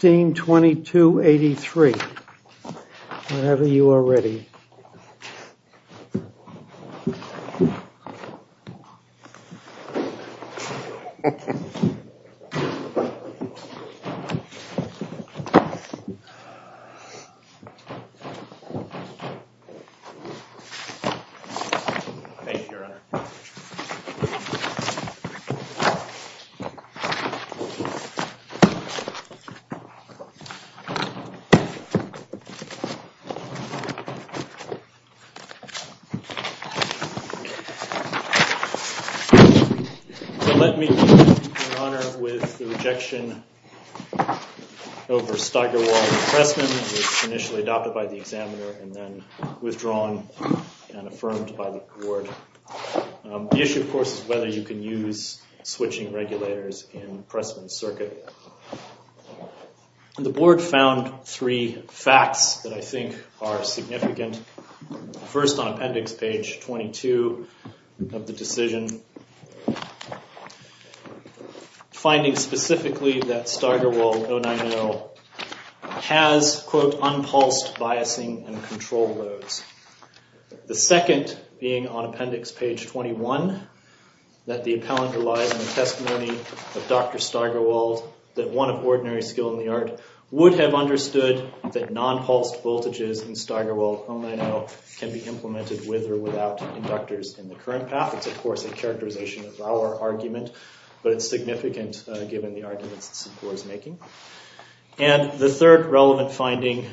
162283, whenever you are ready. So let me begin, Your Honor, with the rejection over Steigerwald and Pressman, which was initially adopted by the Examiner and then withdrawn and affirmed by the Court. The issue, of course, is whether you can use switching regulators in Pressman's circuit. The Board found three facts that I think are significant. First on Appendix Page 22 of the decision, finding specifically that Steigerwald 090 has, quote, unpulsed biasing and control loads. The second, being on Appendix Page 21, that the appellant relies on the testimony of Dr. Steigerwald, that one of ordinary skill in the art, would have understood that non-pulsed voltages in Steigerwald 090 can be implemented with or without inductors in the current path. It's, of course, a characterization of our argument, but it's significant given the arguments that SynQor is making. And the third relevant finding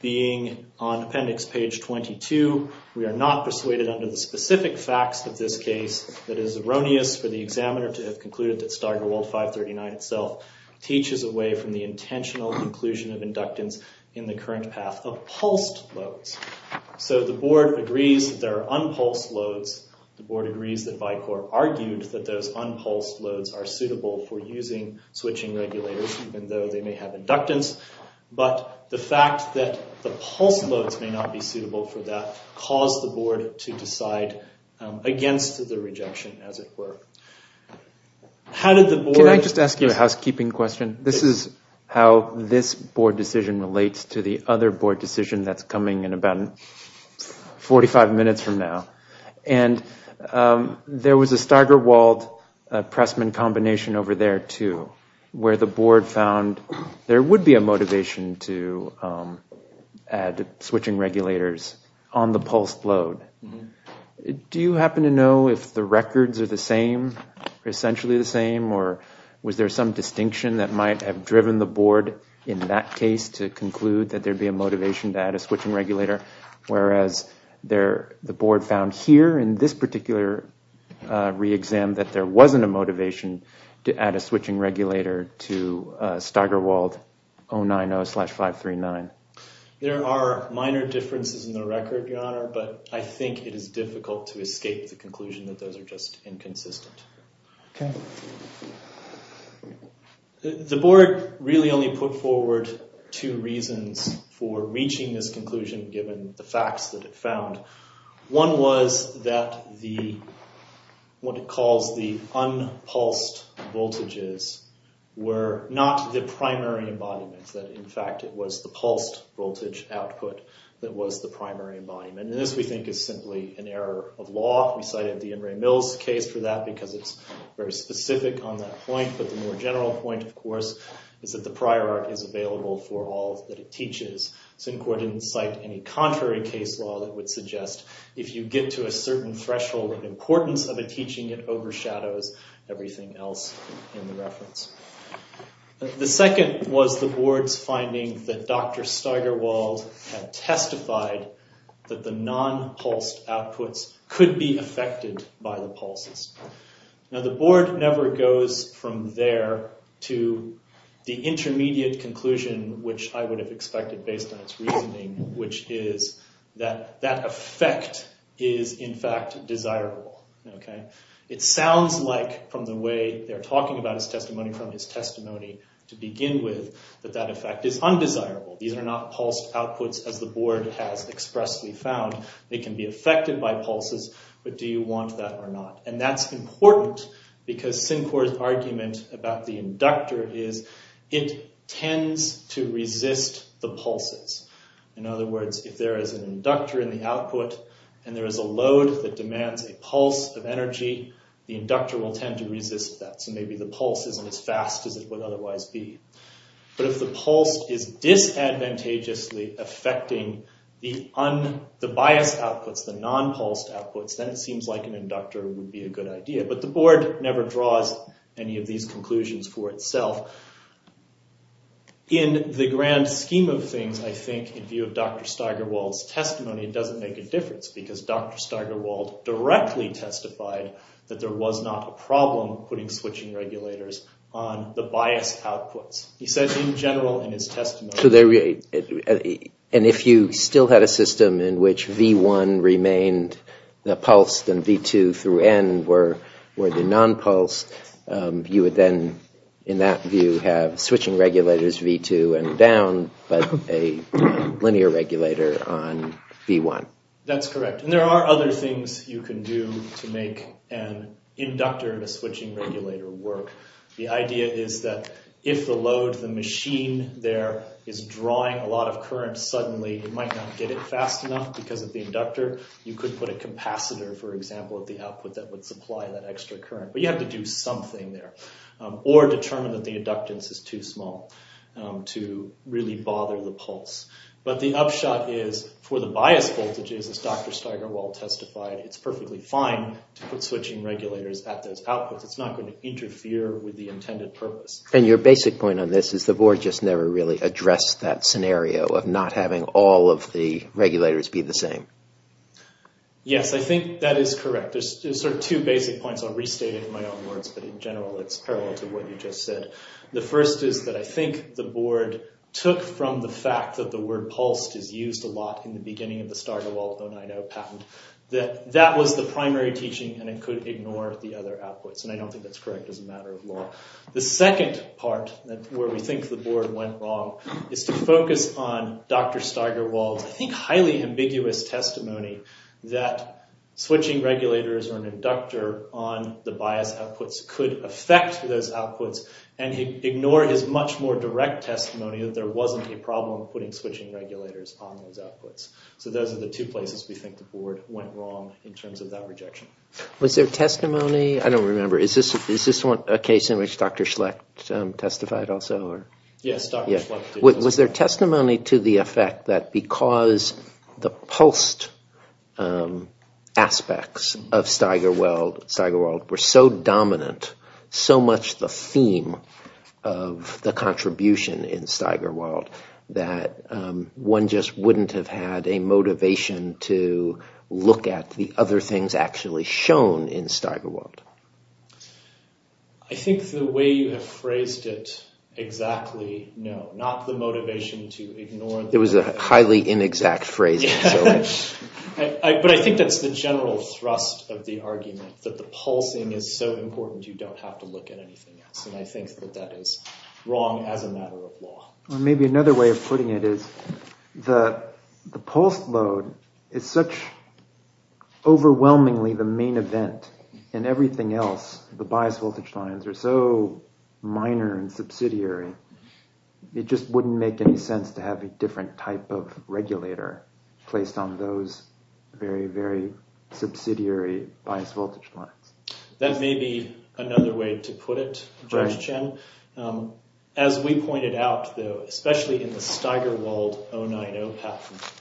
being on Appendix Page 22, we are not persuaded under the specific facts of this case that it is erroneous for the Examiner to have concluded that Steigerwald 539 itself teaches away from the intentional inclusion of inductance in the current path of pulsed loads. So the Board agrees that there are unpulsed loads. The Board agrees that Vicor argued that those unpulsed loads are suitable for using switching regulators even though they may have inductance, but the fact that the pulsed loads may not be suitable for that caused the Board to decide against the rejection, as it were. Can I just ask you a housekeeping question? This is how this Board decision relates to the other Board decision that's coming in about 45 minutes from now. And there was a Steigerwald-Pressman combination over there, too, where the Board found there would be a motivation to add switching regulators on the pulsed load. Do you happen to know if the records are the same, essentially the same, or was there some distinction that might have driven the Board in that case to conclude that there'd be a motivation to add a switching regulator, whereas the Board found here in this particular re-exam that there wasn't a motivation to add a switching regulator to Steigerwald 090-539? There are minor differences in the record, Your Honor, but I think it is difficult to escape the conclusion that those are just inconsistent. Okay. The Board really only put forward two reasons for reaching this conclusion, given the facts that it found. One was that what it calls the unpulsed voltages were not the primary embodiments, that, in fact, it was the pulsed voltage output that was the primary embodiment. And this, we think, is simply an error of law. We cited the Emory-Mills case for that because it's very specific on that point, but the more general point, of course, is that the prior art is available for all that it teaches. Syncort didn't cite any contrary case law that would suggest if you get to a certain threshold of importance of a teaching, it overshadows everything else in the reference. The second was the Board's finding that Dr. Steigerwald had testified that the non-pulsed outputs could be affected by the pulses. Now, the Board never goes from there to the intermediate conclusion, which I would have expected based on its reasoning, which is that that effect is, in fact, desirable. Okay. It sounds like, from the way they're talking about his testimony from his testimony to begin with, that that effect is undesirable. These are not pulsed outputs as the Board has expressly found. They can be affected by pulses, but do you want that or not? And that's important because Syncort's argument about the inductor is it tends to resist the pulses. In other words, if there is an inductor in the output, and there is a load that demands a pulse of energy, the inductor will tend to resist that. So maybe the pulse isn't as fast as it would otherwise be. But if the pulse is disadvantageously affecting the bias outputs, the non-pulsed outputs, then it seems like an inductor would be a good idea. But the Board never draws any of these conclusions for itself. In the grand scheme of things, I think, in view of Dr. Steigerwald's testimony, it doesn't make a difference because Dr. Steigerwald directly testified that there was not a problem putting switching regulators on the biased outputs. He says in general in his testimony. And if you still had a system in which V1 remained pulsed and V2 through N were the non-pulsed, you would then, in that view, have switching regulators V2 and down, but a linear regulator on V1. That's correct. And there are other things you can do to make an inductor and a switching regulator work. The idea is that if the load of the machine there is drawing a lot of current suddenly, it might not get it fast enough because of the inductor. You could put a capacitor, for example, at the output that would supply that extra current. But you have to do something there. Or determine that the inductance is too small to really bother the pulse. But the upshot is, for the biased voltages, as Dr. Steigerwald testified, it's perfectly fine to put switching regulators at those outputs. It's not going to interfere with the intended purpose. And your basic point on this is the board just never really addressed that scenario of not having all of the regulators be the same. Yes, I think that is correct. There's sort of two basic points. I'll restate it in my own words, but in general it's parallel to what you just said. The first is that I think the board took from the fact that the word pulsed is used a lot in the beginning of the Steigerwald 090 patent. That that was the primary teaching and it could ignore the other outputs. And I don't think that's correct as a matter of law. The second part where we think the board went wrong is to focus on Dr. Steigerwald's, I think, highly ambiguous testimony that switching regulators or an inductor on the biased outputs could affect those outputs and ignore his much more direct testimony that there wasn't a problem putting switching regulators on those outputs. So those are the two places we think the board went wrong in terms of that rejection. Was there testimony, I don't remember, is this a case in which Dr. Schlecht testified also? Yes, Dr. Schlecht did. Was there testimony to the effect that because the pulsed aspects of Steigerwald were so dominant, so much the theme of the contribution in Steigerwald, that one just wouldn't have had a motivation to look at the other things actually shown in Steigerwald? I think the way you have phrased it exactly, no. Not the motivation to ignore. It was a highly inexact phrase. But I think that's the general thrust of the argument, that the pulsing is so important you don't have to look at anything else. And I think that that is wrong as a matter of law. Maybe another way of putting it is the pulsed load is such overwhelmingly the main event and everything else, the bias voltage lines are so minor and subsidiary, it just wouldn't make any sense to have a different type of regulator placed on those very, very subsidiary bias voltage lines. That may be another way to put it, Judge Chen. As we pointed out though, especially in the Steigerwald 090 patent,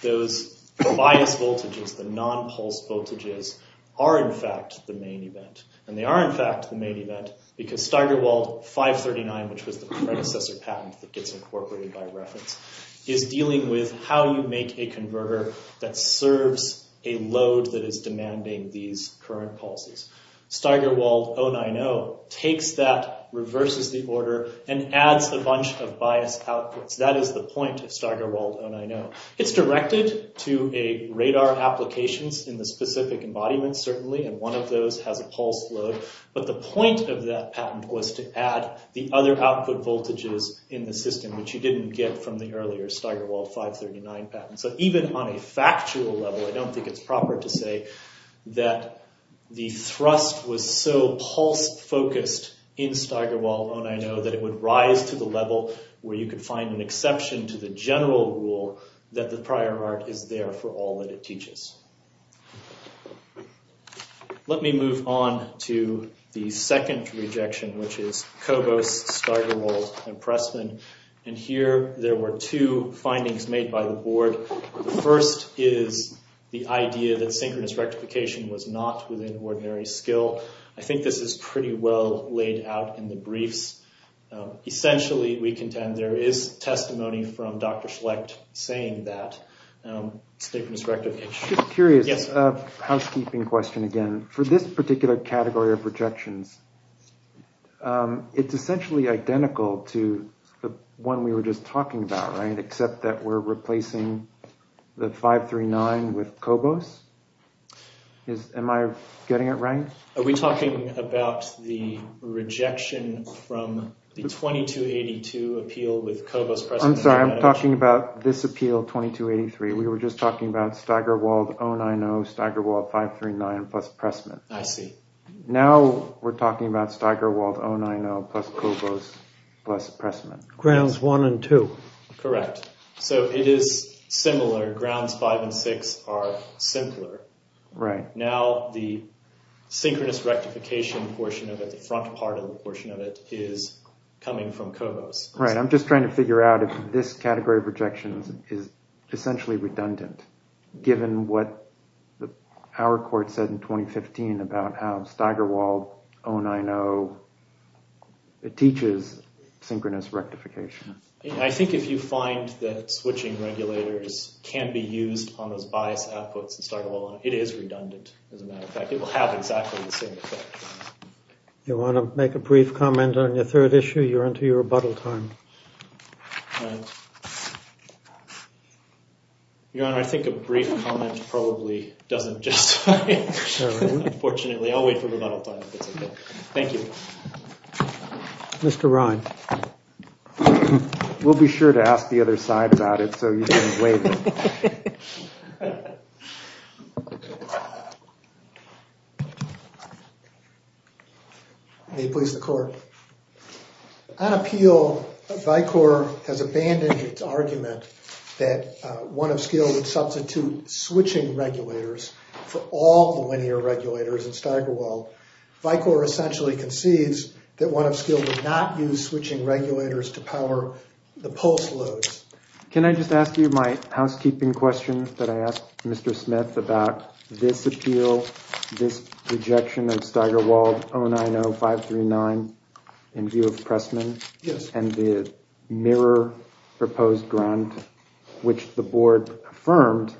those bias voltages, the non-pulsed voltages, are in fact the main event. And they are in fact the main event because Steigerwald 539, which was the predecessor patent that gets incorporated by reference, is dealing with how you make a converter that serves a load that is demanding these current pulses. Steigerwald 090 takes that, reverses the order, and adds a bunch of bias outputs. That is the point of Steigerwald 090. It's directed to radar applications in the specific embodiment, certainly, and one of those has a pulsed load. But the point of that patent was to add the other output voltages in the system, which you didn't get from the earlier Steigerwald 539 patent. So even on a factual level, I don't think it's proper to say that the thrust was so pulse-focused in Steigerwald 090 that it would rise to the level where you could find an exception to the general rule that the prior art is there for all that it teaches. Let me move on to the second rejection, which is Cobos, Steigerwald, and Pressman. And here there were two findings made by the board. The first is the idea that synchronous rectification was not within ordinary skill. I think this is pretty well laid out in the briefs. Essentially, we contend there is testimony from Dr. Schlecht saying that synchronous rectification— Just curious, housekeeping question again. For this particular category of rejections, it's essentially identical to the one we were just talking about, right, except that we're replacing the 539 with Cobos? Am I getting it right? Are we talking about the rejection from the 2282 appeal with Cobos, Pressman? I'm sorry. I'm talking about this appeal, 2283. We were just talking about Steigerwald 090, Steigerwald 539, plus Pressman. I see. Now we're talking about Steigerwald 090 plus Cobos plus Pressman. Grounds one and two. Correct. So it is similar. Grounds five and six are simpler. Right. Now the synchronous rectification portion of it, the front part of the portion of it, is coming from Cobos. Right. I'm just trying to figure out if this category of rejections is essentially redundant, given what our court said in 2015 about how Steigerwald 090 teaches synchronous rectification. I think if you find that switching regulators can be used on those biased outputs in Steigerwald 090, it is redundant as a matter of fact. It will have exactly the same effect. You want to make a brief comment on your third issue? You're onto your rebuttal time. Your Honor, I think a brief comment probably doesn't justify it. Unfortunately, I'll wait for rebuttal time if it's okay. Thank you. Mr. Ryan. We'll be sure to ask the other side about it, so you can wait. May it please the Court. On appeal, Vicor has abandoned its argument that one of scale would substitute switching regulators for all the linear regulators in Steigerwald. Vicor essentially concedes that one of scale would not use switching regulators to power the pulse loads. Can I just ask you my housekeeping question that I asked Mr. Smith about this appeal, this rejection of Steigerwald 090-539 in view of Pressman, and the mirror proposed grant which the board affirmed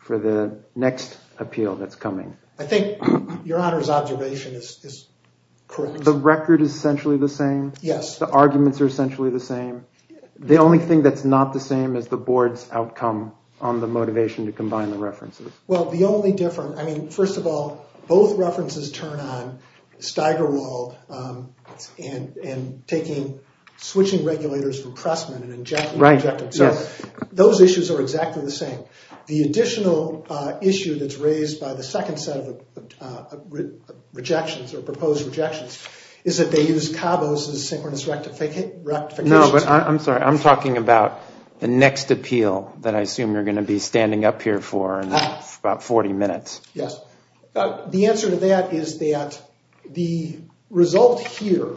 for the next appeal that's coming? I think your Honor's observation is correct. The record is essentially the same? Yes. The arguments are essentially the same? The only thing that's not the same is the board's outcome on the motivation to combine the references. Well, the only difference, I mean, first of all, both references turn on Steigerwald and taking switching regulators from Pressman and injecting them. So those issues are exactly the same. The additional issue that's raised by the second set of rejections or proposed rejections is that they use Cabo's synchronous rectifications. No, but I'm sorry. I'm talking about the next appeal that I assume you're going to be standing up here for in about 40 minutes. Yes. The answer to that is that the result here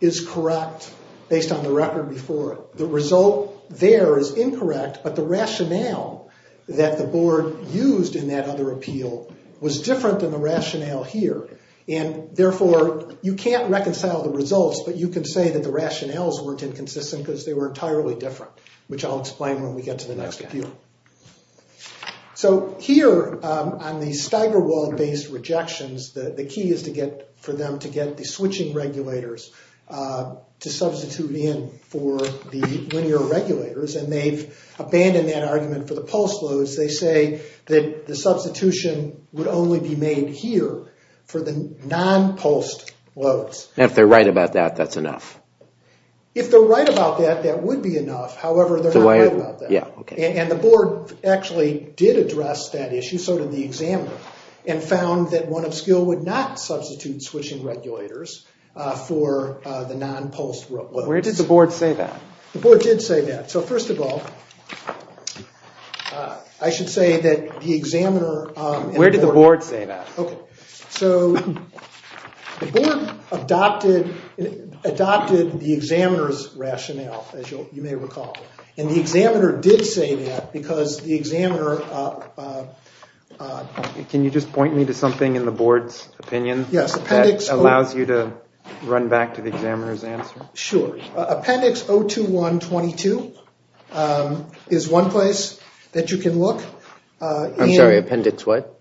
is correct based on the record before it. The result there is incorrect, but the rationale that the board used in that other appeal was different than the rationale here. And therefore, you can't reconcile the results, but you can say that the rationales weren't inconsistent because they were entirely different, which I'll explain when we get to the next appeal. So here on the Steigerwald-based rejections, the key is for them to get the switching regulators to substitute in for the linear regulators. And they've abandoned that argument for the pulse loads. They say that the substitution would only be made here for the non-pulsed loads. And if they're right about that, that's enough? If they're right about that, that would be enough. However, they're not right about that. And the board actually did address that issue, so did the examiner, and found that one of skill would not substitute switching regulators for the non-pulsed loads. Where did the board say that? The board did say that. So first of all, I should say that the examiner— Where did the board say that? So the board adopted the examiner's rationale, as you may recall. And the examiner did say that because the examiner— Can you just point me to something in the board's opinion that allows you to run back to the examiner's answer? Sure. Appendix 021-22 is one place that you can look. I'm sorry, appendix what?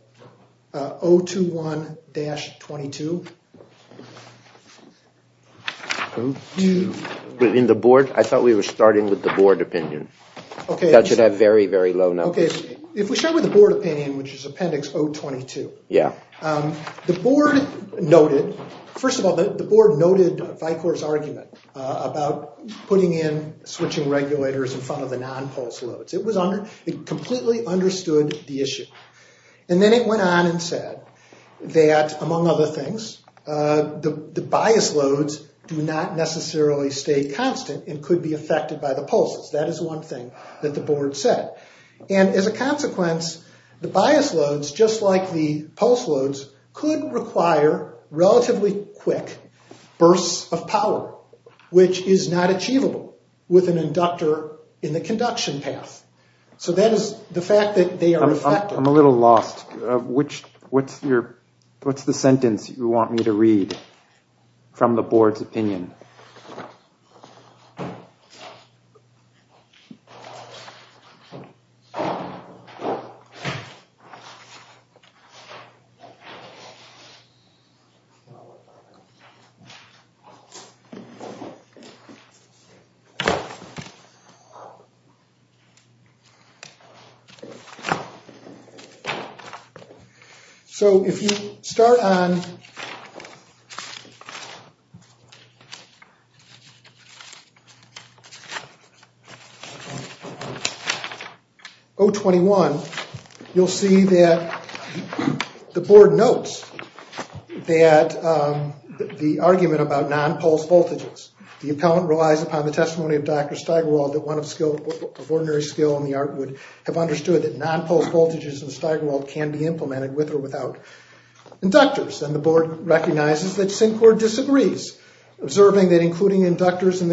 021-22? In the board? I thought we were starting with the board opinion. Okay. That should have very, very low numbers. Okay. If we start with the board opinion, which is appendix 022. Yeah. The board noted—first of all, the board noted Vicor's argument about putting in switching regulators in front of the non-pulsed loads. It completely understood the issue. And then it went on and said that, among other things, the bias loads do not necessarily stay constant and could be affected by the pulses. That is one thing that the board said. And as a consequence, the bias loads, just like the pulse loads, could require relatively quick bursts of power, which is not achievable with an inductor in the conduction path. So that is the fact that they are effective. I'm a little lost. What's the sentence you want me to read from the board's opinion? So if you start on 021, you'll see that the board notes that the argument about non-pulsed voltages. The appellant relies upon the testimony of Dr. Steigerwald that one of ordinary skill in the art would have understood that non-pulsed voltages in Steigerwald can be implemented with or without inductors. And the board recognizes that Syncord disagrees, observing that including inductors in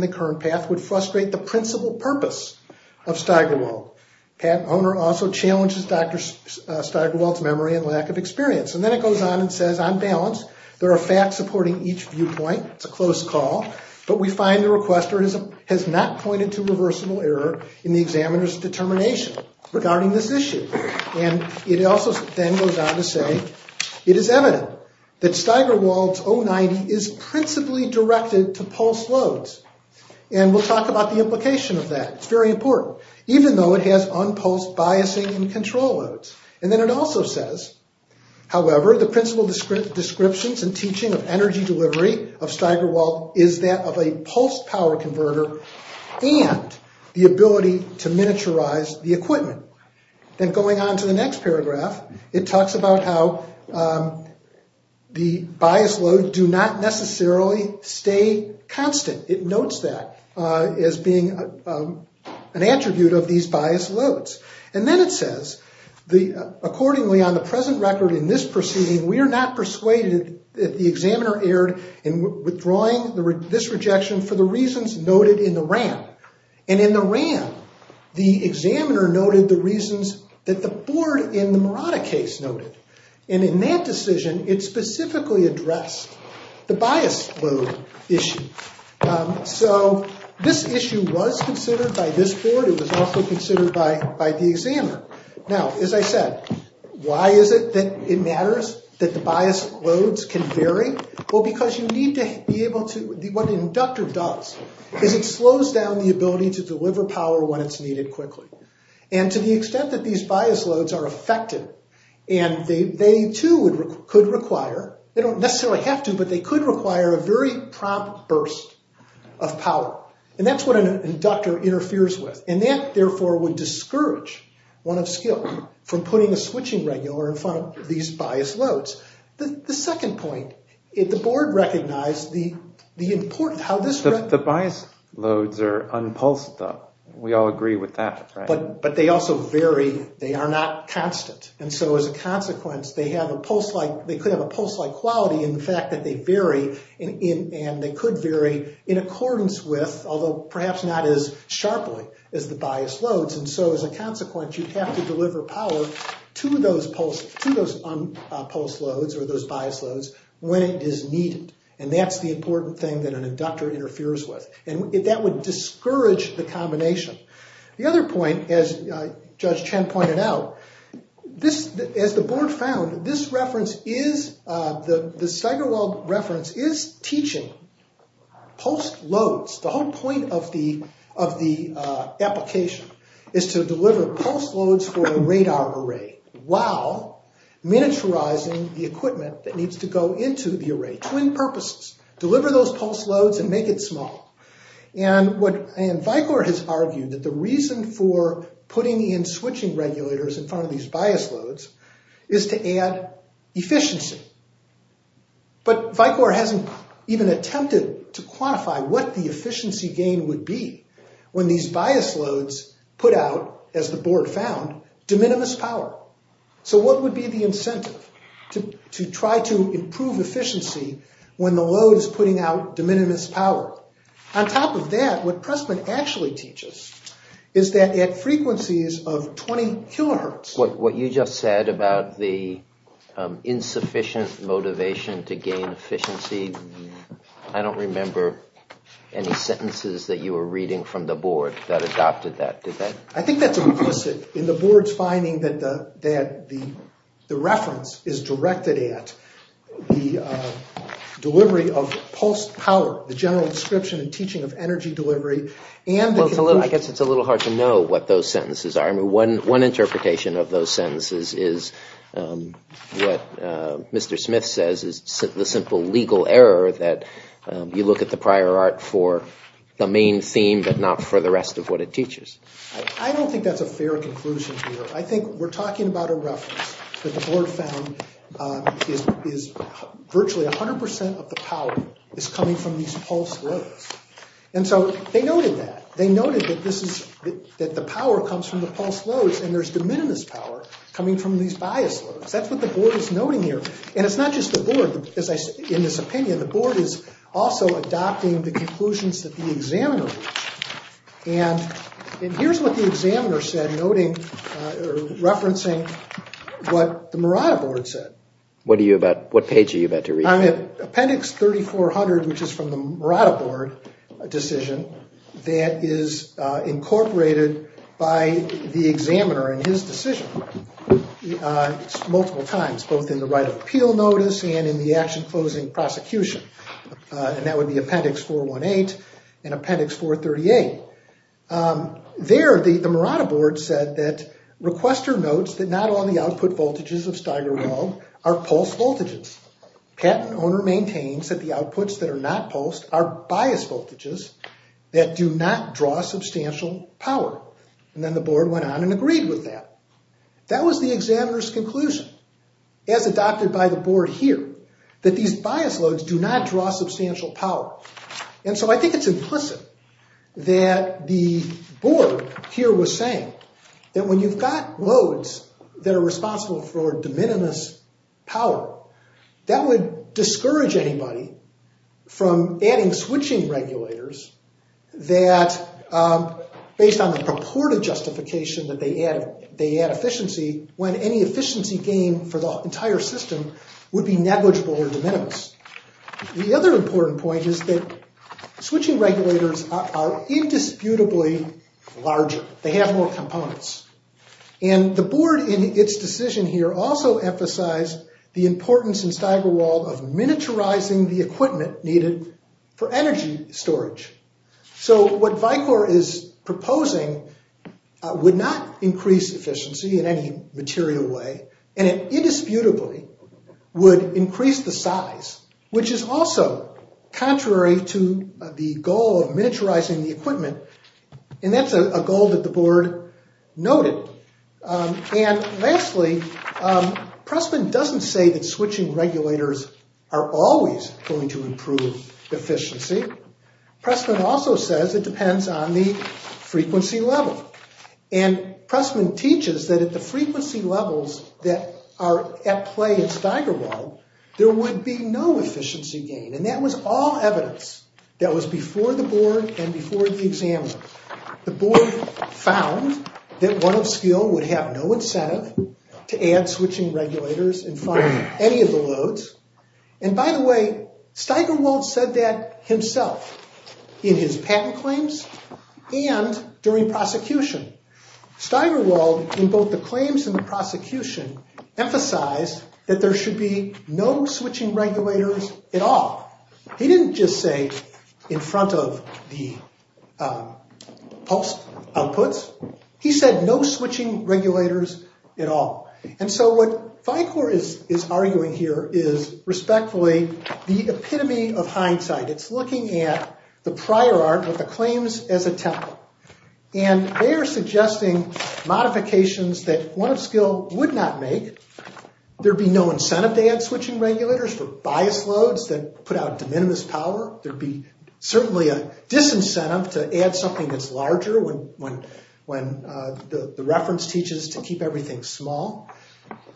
the current path would frustrate the principal purpose of Steigerwald. Pat Mohner also challenges Dr. Steigerwald's memory and lack of experience. And then it goes on and says, on balance, there are facts supporting each viewpoint. It's a close call, but we find the requester has not pointed to reversible error in the examiner's determination regarding this issue. And it also then goes on to say, it is evident that Steigerwald's 090 is principally directed to pulse loads. And we'll talk about the implication of that. It's very important, even though it has unpulsed biasing and control loads. And then it also says, however, the principal descriptions and teaching of energy delivery of Steigerwald is that of a pulse power converter and the ability to miniaturize the equipment. Then going on to the next paragraph, it talks about how the bias loads do not necessarily stay constant. It notes that as being an attribute of these bias loads. And then it says, accordingly, on the present record in this proceeding, we are not persuaded that the examiner erred in withdrawing this rejection for the reasons noted in the RAM. And in the RAM, the examiner noted the reasons that the board in the Murata case noted. And in that decision, it specifically addressed the bias load issue. So this issue was considered by this board. It was also considered by the examiner. Now, as I said, why is it that it matters that the bias loads can vary? Well, because you need to be able to—what an inductor does is it slows down the ability to deliver power when it's needed quickly. And to the extent that these bias loads are affected, and they too could require—they don't necessarily have to, but they could require a very prompt burst of power. And that's what an inductor interferes with. And that, therefore, would discourage one of skill from putting a switching regular in front of these bias loads. The second point, the board recognized the important—how this— The bias loads are unpulsed, though. We all agree with that, right? But they also vary. They are not constant. And so, as a consequence, they have a pulse-like—they could have a pulse-like quality in the fact that they vary, and they could vary in accordance with, although perhaps not as sharply as the bias loads. And so, as a consequence, you have to deliver power to those unpulsed loads or those bias loads when it is needed. And that's the important thing that an inductor interferes with. And that would discourage the combination. The other point, as Judge Chen pointed out, this—as the board found, this reference is—the Steigerwald reference is teaching pulse loads. The whole point of the application is to deliver pulse loads for a radar array while miniaturizing the equipment that needs to go into the array. Twin purposes. Deliver those pulse loads and make it small. And what—and Vicor has argued that the reason for putting in switching regulators in front of these bias loads is to add efficiency. But Vicor hasn't even attempted to quantify what the efficiency gain would be when these bias loads put out, as the board found, de minimis power. So what would be the incentive to try to improve efficiency when the load is putting out de minimis power? On top of that, what Pressman actually teaches is that at frequencies of 20 kilohertz— What you just said about the insufficient motivation to gain efficiency, I don't remember any sentences that you were reading from the board that adopted that, did they? I think that's implicit in the board's finding that the reference is directed at the delivery of pulsed power, the general description and teaching of energy delivery, and— Well, I guess it's a little hard to know what those sentences are. I mean, one interpretation of those sentences is what Mr. Smith says is the simple legal error that you look at the prior art for the main theme but not for the rest of what it teaches. I don't think that's a fair conclusion here. I think we're talking about a reference that the board found is virtually 100 percent of the power is coming from these pulsed loads. And so they noted that. They noted that this is—that the power comes from the pulsed loads, and there's de minimis power coming from these biased loads. That's what the board is noting here. And it's not just the board, as I said, in this opinion. The board is also adopting the conclusions that the examiner reached. And here's what the examiner said, noting—referencing what the Murata board said. What are you about—what page are you about to read? Appendix 3400, which is from the Murata board decision, that is incorporated by the examiner in his decision multiple times, both in the right of appeal notice and in the action closing prosecution. And that would be Appendix 418 and Appendix 438. There, the Murata board said that requester notes that not all the output voltages of Steigerwald are pulsed voltages. Patent owner maintains that the outputs that are not pulsed are biased voltages that do not draw substantial power. And then the board went on and agreed with that. That was the examiner's conclusion, as adopted by the board here, that these biased loads do not draw substantial power. And so I think it's implicit that the board here was saying that when you've got loads that are responsible for de minimis power, that would discourage anybody from adding switching regulators that, based on the purported justification that they add efficiency, when any efficiency gain for the entire system would be negligible or de minimis. The other important point is that switching regulators are indisputably larger. They have more components. And the board in its decision here also emphasized the importance in Steigerwald of miniaturizing the equipment needed for energy storage. So what VICOR is proposing would not increase efficiency in any material way. And it indisputably would increase the size, which is also contrary to the goal of miniaturizing the equipment. And that's a goal that the board noted. And lastly, Pressman doesn't say that switching regulators are always going to improve efficiency. Pressman also says it depends on the frequency level. And Pressman teaches that at the frequency levels that are at play at Steigerwald, there would be no efficiency gain. And that was all evidence that was before the board and before the examiners. The board found that one of skill would have no incentive to add switching regulators in front of any of the loads. And by the way, Steigerwald said that himself in his patent claims and during prosecution. Steigerwald, in both the claims and the prosecution, emphasized that there should be no switching regulators at all. He didn't just say in front of the pulse outputs. He said no switching regulators at all. And so what VICOR is arguing here is respectfully the epitome of hindsight. It's looking at the prior art of the claims as a template. And they are suggesting modifications that one of skill would not make. There'd be no incentive to add switching regulators for bias loads that put out de minimis power. There'd be certainly a disincentive to add something that's larger when the reference teaches to keep everything small.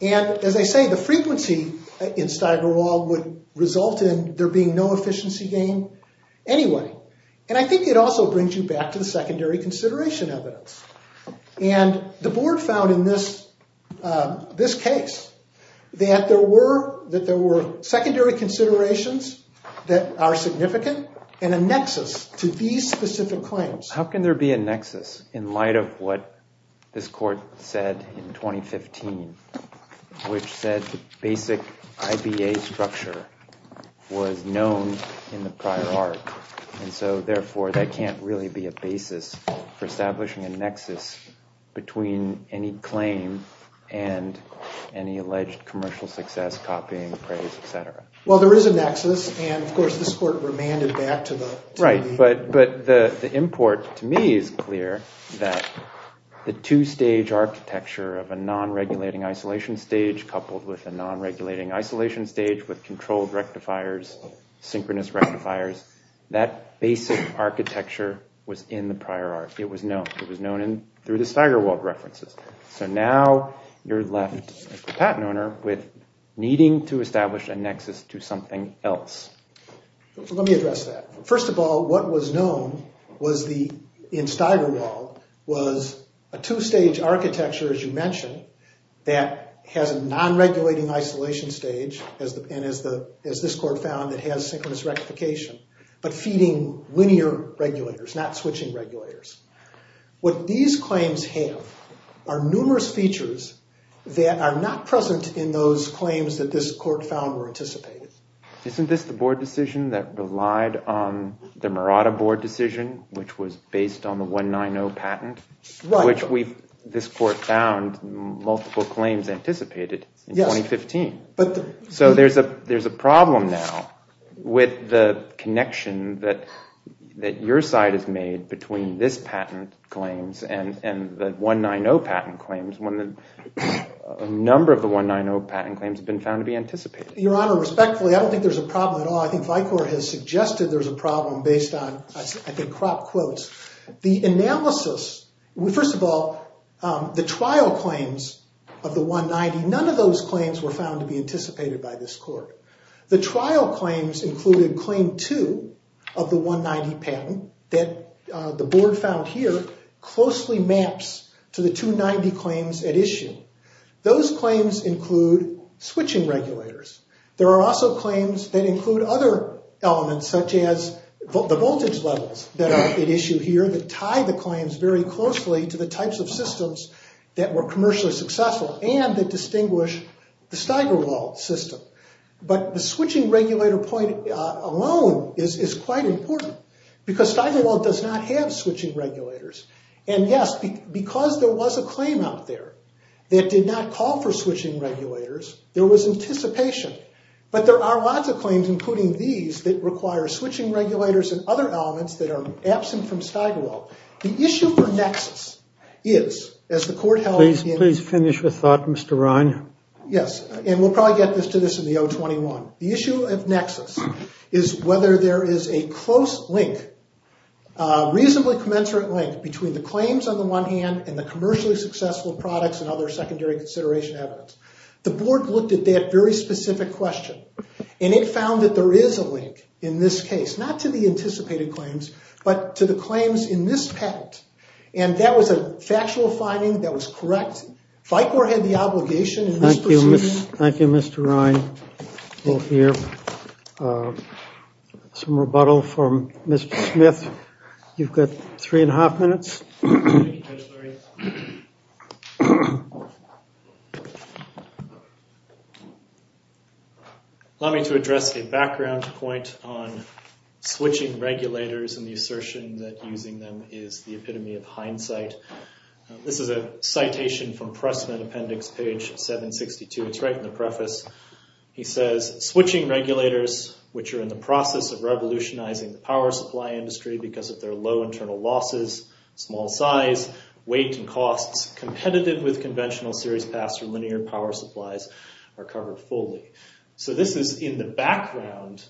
And as I say, the frequency in Steigerwald would result in there being no efficiency gain anyway. And I think it also brings you back to the secondary consideration evidence. And the board found in this case that there were secondary considerations that are significant and a nexus to these specific claims. How can there be a nexus in light of what this court said in 2015, which said the basic IBA structure was known in the prior art? And so, therefore, that can't really be a basis for establishing a nexus between any claim and any alleged commercial success, copying, praise, et cetera. Well, there is a nexus. And, of course, this court remanded back to the. Right. But the import to me is clear that the two-stage architecture of a non-regulating isolation stage coupled with a non-regulating isolation stage with controlled rectifiers, synchronous rectifiers, that basic architecture was in the prior art. It was known. It was known through the Steigerwald references. So now you're left, as the patent owner, with needing to establish a nexus to something else. Let me address that. First of all, what was known in Steigerwald was a two-stage architecture, as you mentioned, that has a non-regulating isolation stage. And as this court found, it has synchronous rectification, but feeding linear regulators, not switching regulators. What these claims have are numerous features that are not present in those claims that this court found were anticipated. Isn't this the board decision that relied on the Murata board decision, which was based on the 190 patent, which this court found multiple claims anticipated in 2015? So there's a problem now with the connection that your side has made between this patent claims and the 190 patent claims when a number of the 190 patent claims have been found to be anticipated. Your Honor, respectfully, I don't think there's a problem at all. I think Vicor has suggested there's a problem based on, I think, crop quotes. The analysis, first of all, the trial claims of the 190, none of those claims were found to be anticipated by this court. The trial claims included claim two of the 190 patent that the board found here closely maps to the 290 claims at issue. Those claims include switching regulators. There are also claims that include other elements such as the voltage levels that are at issue here that tie the claims very closely to the types of systems that were commercially successful and that distinguish the Steigerwald system. But the switching regulator point alone is quite important because Steigerwald does not have switching regulators. And yes, because there was a claim out there that did not call for switching regulators, there was anticipation. But there are lots of claims, including these, that require switching regulators and other elements that are absent from Steigerwald. The issue for nexus is, as the court held in- Please finish your thought, Mr. Ryan. Yes, and we'll probably get to this in the O21. The issue of nexus is whether there is a close link, reasonably commensurate link, between the claims on the one hand and the commercially successful products and other secondary consideration evidence. The board looked at that very specific question, and it found that there is a link in this case, not to the anticipated claims, but to the claims in this patent. And that was a factual finding that was correct. FICOR had the obligation in this proceeding- We'll hear some rebuttal from Mr. Smith. You've got three and a half minutes. Allow me to address a background point on switching regulators and the assertion that using them is the epitome of hindsight. This is a citation from Pressman Appendix, page 762. It's right in the preface. He says, switching regulators, which are in the process of revolutionizing the power supply industry because of their low internal losses, small size, weight, and costs, competitive with conventional series paths for linear power supplies, are covered fully. So this is, in the background,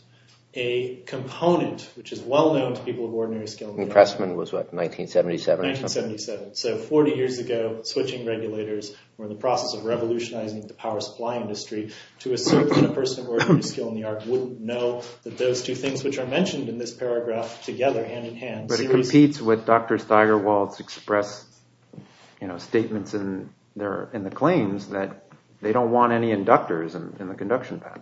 a component which is well known to people of ordinary skill. And Pressman was what, 1977? 1977. So 40 years ago, switching regulators were in the process of revolutionizing the power supply industry to assert that a person of ordinary skill in the art wouldn't know that those two things which are mentioned in this paragraph together, hand in hand- But it competes with Dr. Steigerwald's expressed statements in the claims that they don't want any inductors in the conduction path.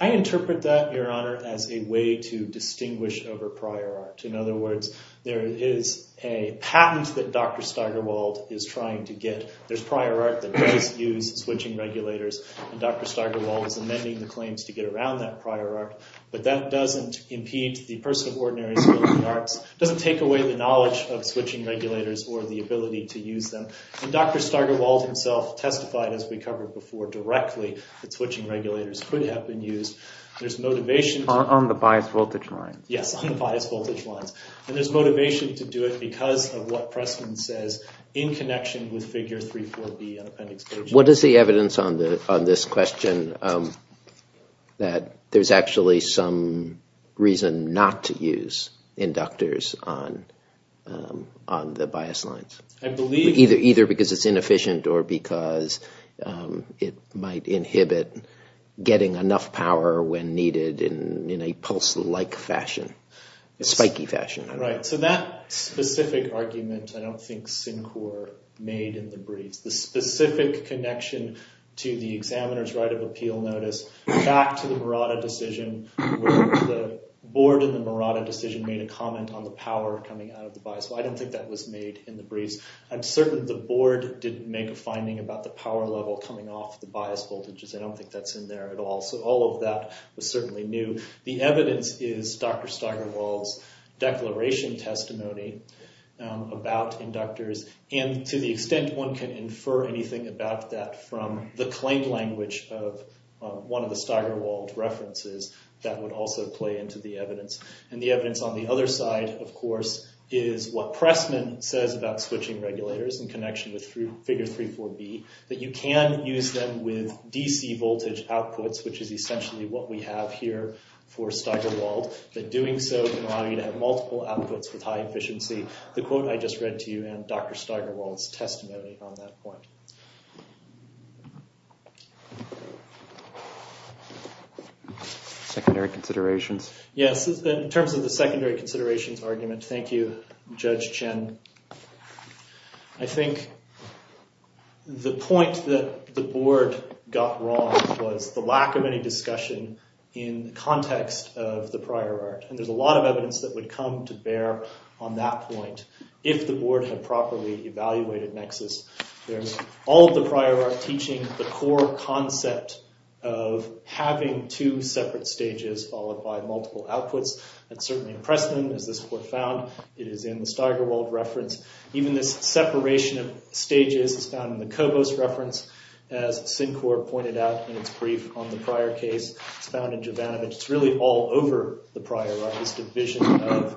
I interpret that, Your Honor, as a way to distinguish over prior art. In other words, there is a patent that Dr. Steigerwald is trying to get. There's prior art that does use switching regulators. And Dr. Steigerwald is amending the claims to get around that prior art. But that doesn't impede the person of ordinary skill in the arts. It doesn't take away the knowledge of switching regulators or the ability to use them. And Dr. Steigerwald himself testified, as we covered before, directly that switching regulators could have been used. There's motivation to- On the biased voltage line. Yes, on the biased voltage lines. And there's motivation to do it because of what Preston says in connection with figure 3.4B on appendix K- What is the evidence on this question that there's actually some reason not to use inductors on the biased lines? I believe- Right. So that specific argument, I don't think Syncor made in the briefs. The specific connection to the examiner's right of appeal notice, back to the Murata decision, where the board in the Murata decision made a comment on the power coming out of the bias. Well, I don't think that was made in the briefs. I'm certain the board didn't make a finding about the power level coming off the biased voltages. I don't think that's in there at all. So all of that was certainly new. The evidence is Dr. Steigerwald's declaration testimony about inductors. And to the extent one can infer anything about that from the claim language of one of the Steigerwald references, that would also play into the evidence. And the evidence on the other side, of course, is what Preston says about switching regulators in connection with figure 3.4B, that you can use them with DC voltage outputs, which is essentially what we have here for Steigerwald. That doing so can allow you to have multiple outputs with high efficiency. The quote I just read to you and Dr. Steigerwald's testimony on that point. Secondary considerations? Yes. In terms of the secondary considerations argument, thank you, Judge Chen. I think the point that the board got wrong was the lack of any discussion in the context of the prior art. And there's a lot of evidence that would come to bear on that point if the board had properly evaluated Nexus. There's all of the prior art teaching the core concept of having two separate stages followed by multiple outputs. That certainly impressed them, as this court found. It is in the Steigerwald reference. Even this separation of stages is found in the Cobos reference, as Syncor pointed out in its brief on the prior case. It's found in Jovanovich. It's really all over the prior art, this division of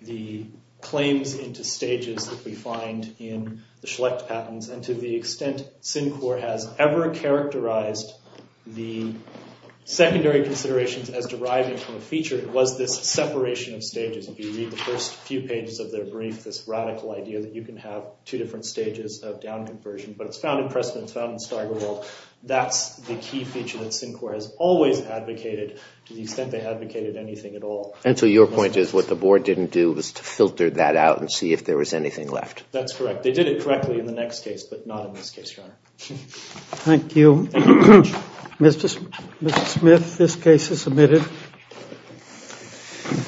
the claims into stages that we find in the Schlecht patents. And to the extent Syncor has ever characterized the secondary considerations as deriving from a feature, it was this separation of stages. If you read the first few pages of their brief, this radical idea that you can have two different stages of down conversion. But it's found in Preston. It's found in Steigerwald. That's the key feature that Syncor has always advocated to the extent they advocated anything at all. And so your point is what the board didn't do was to filter that out and see if there was anything left. That's correct. They did it correctly in the next case, but not in this case, Your Honor. Thank you. Mr. Smith, this case is submitted.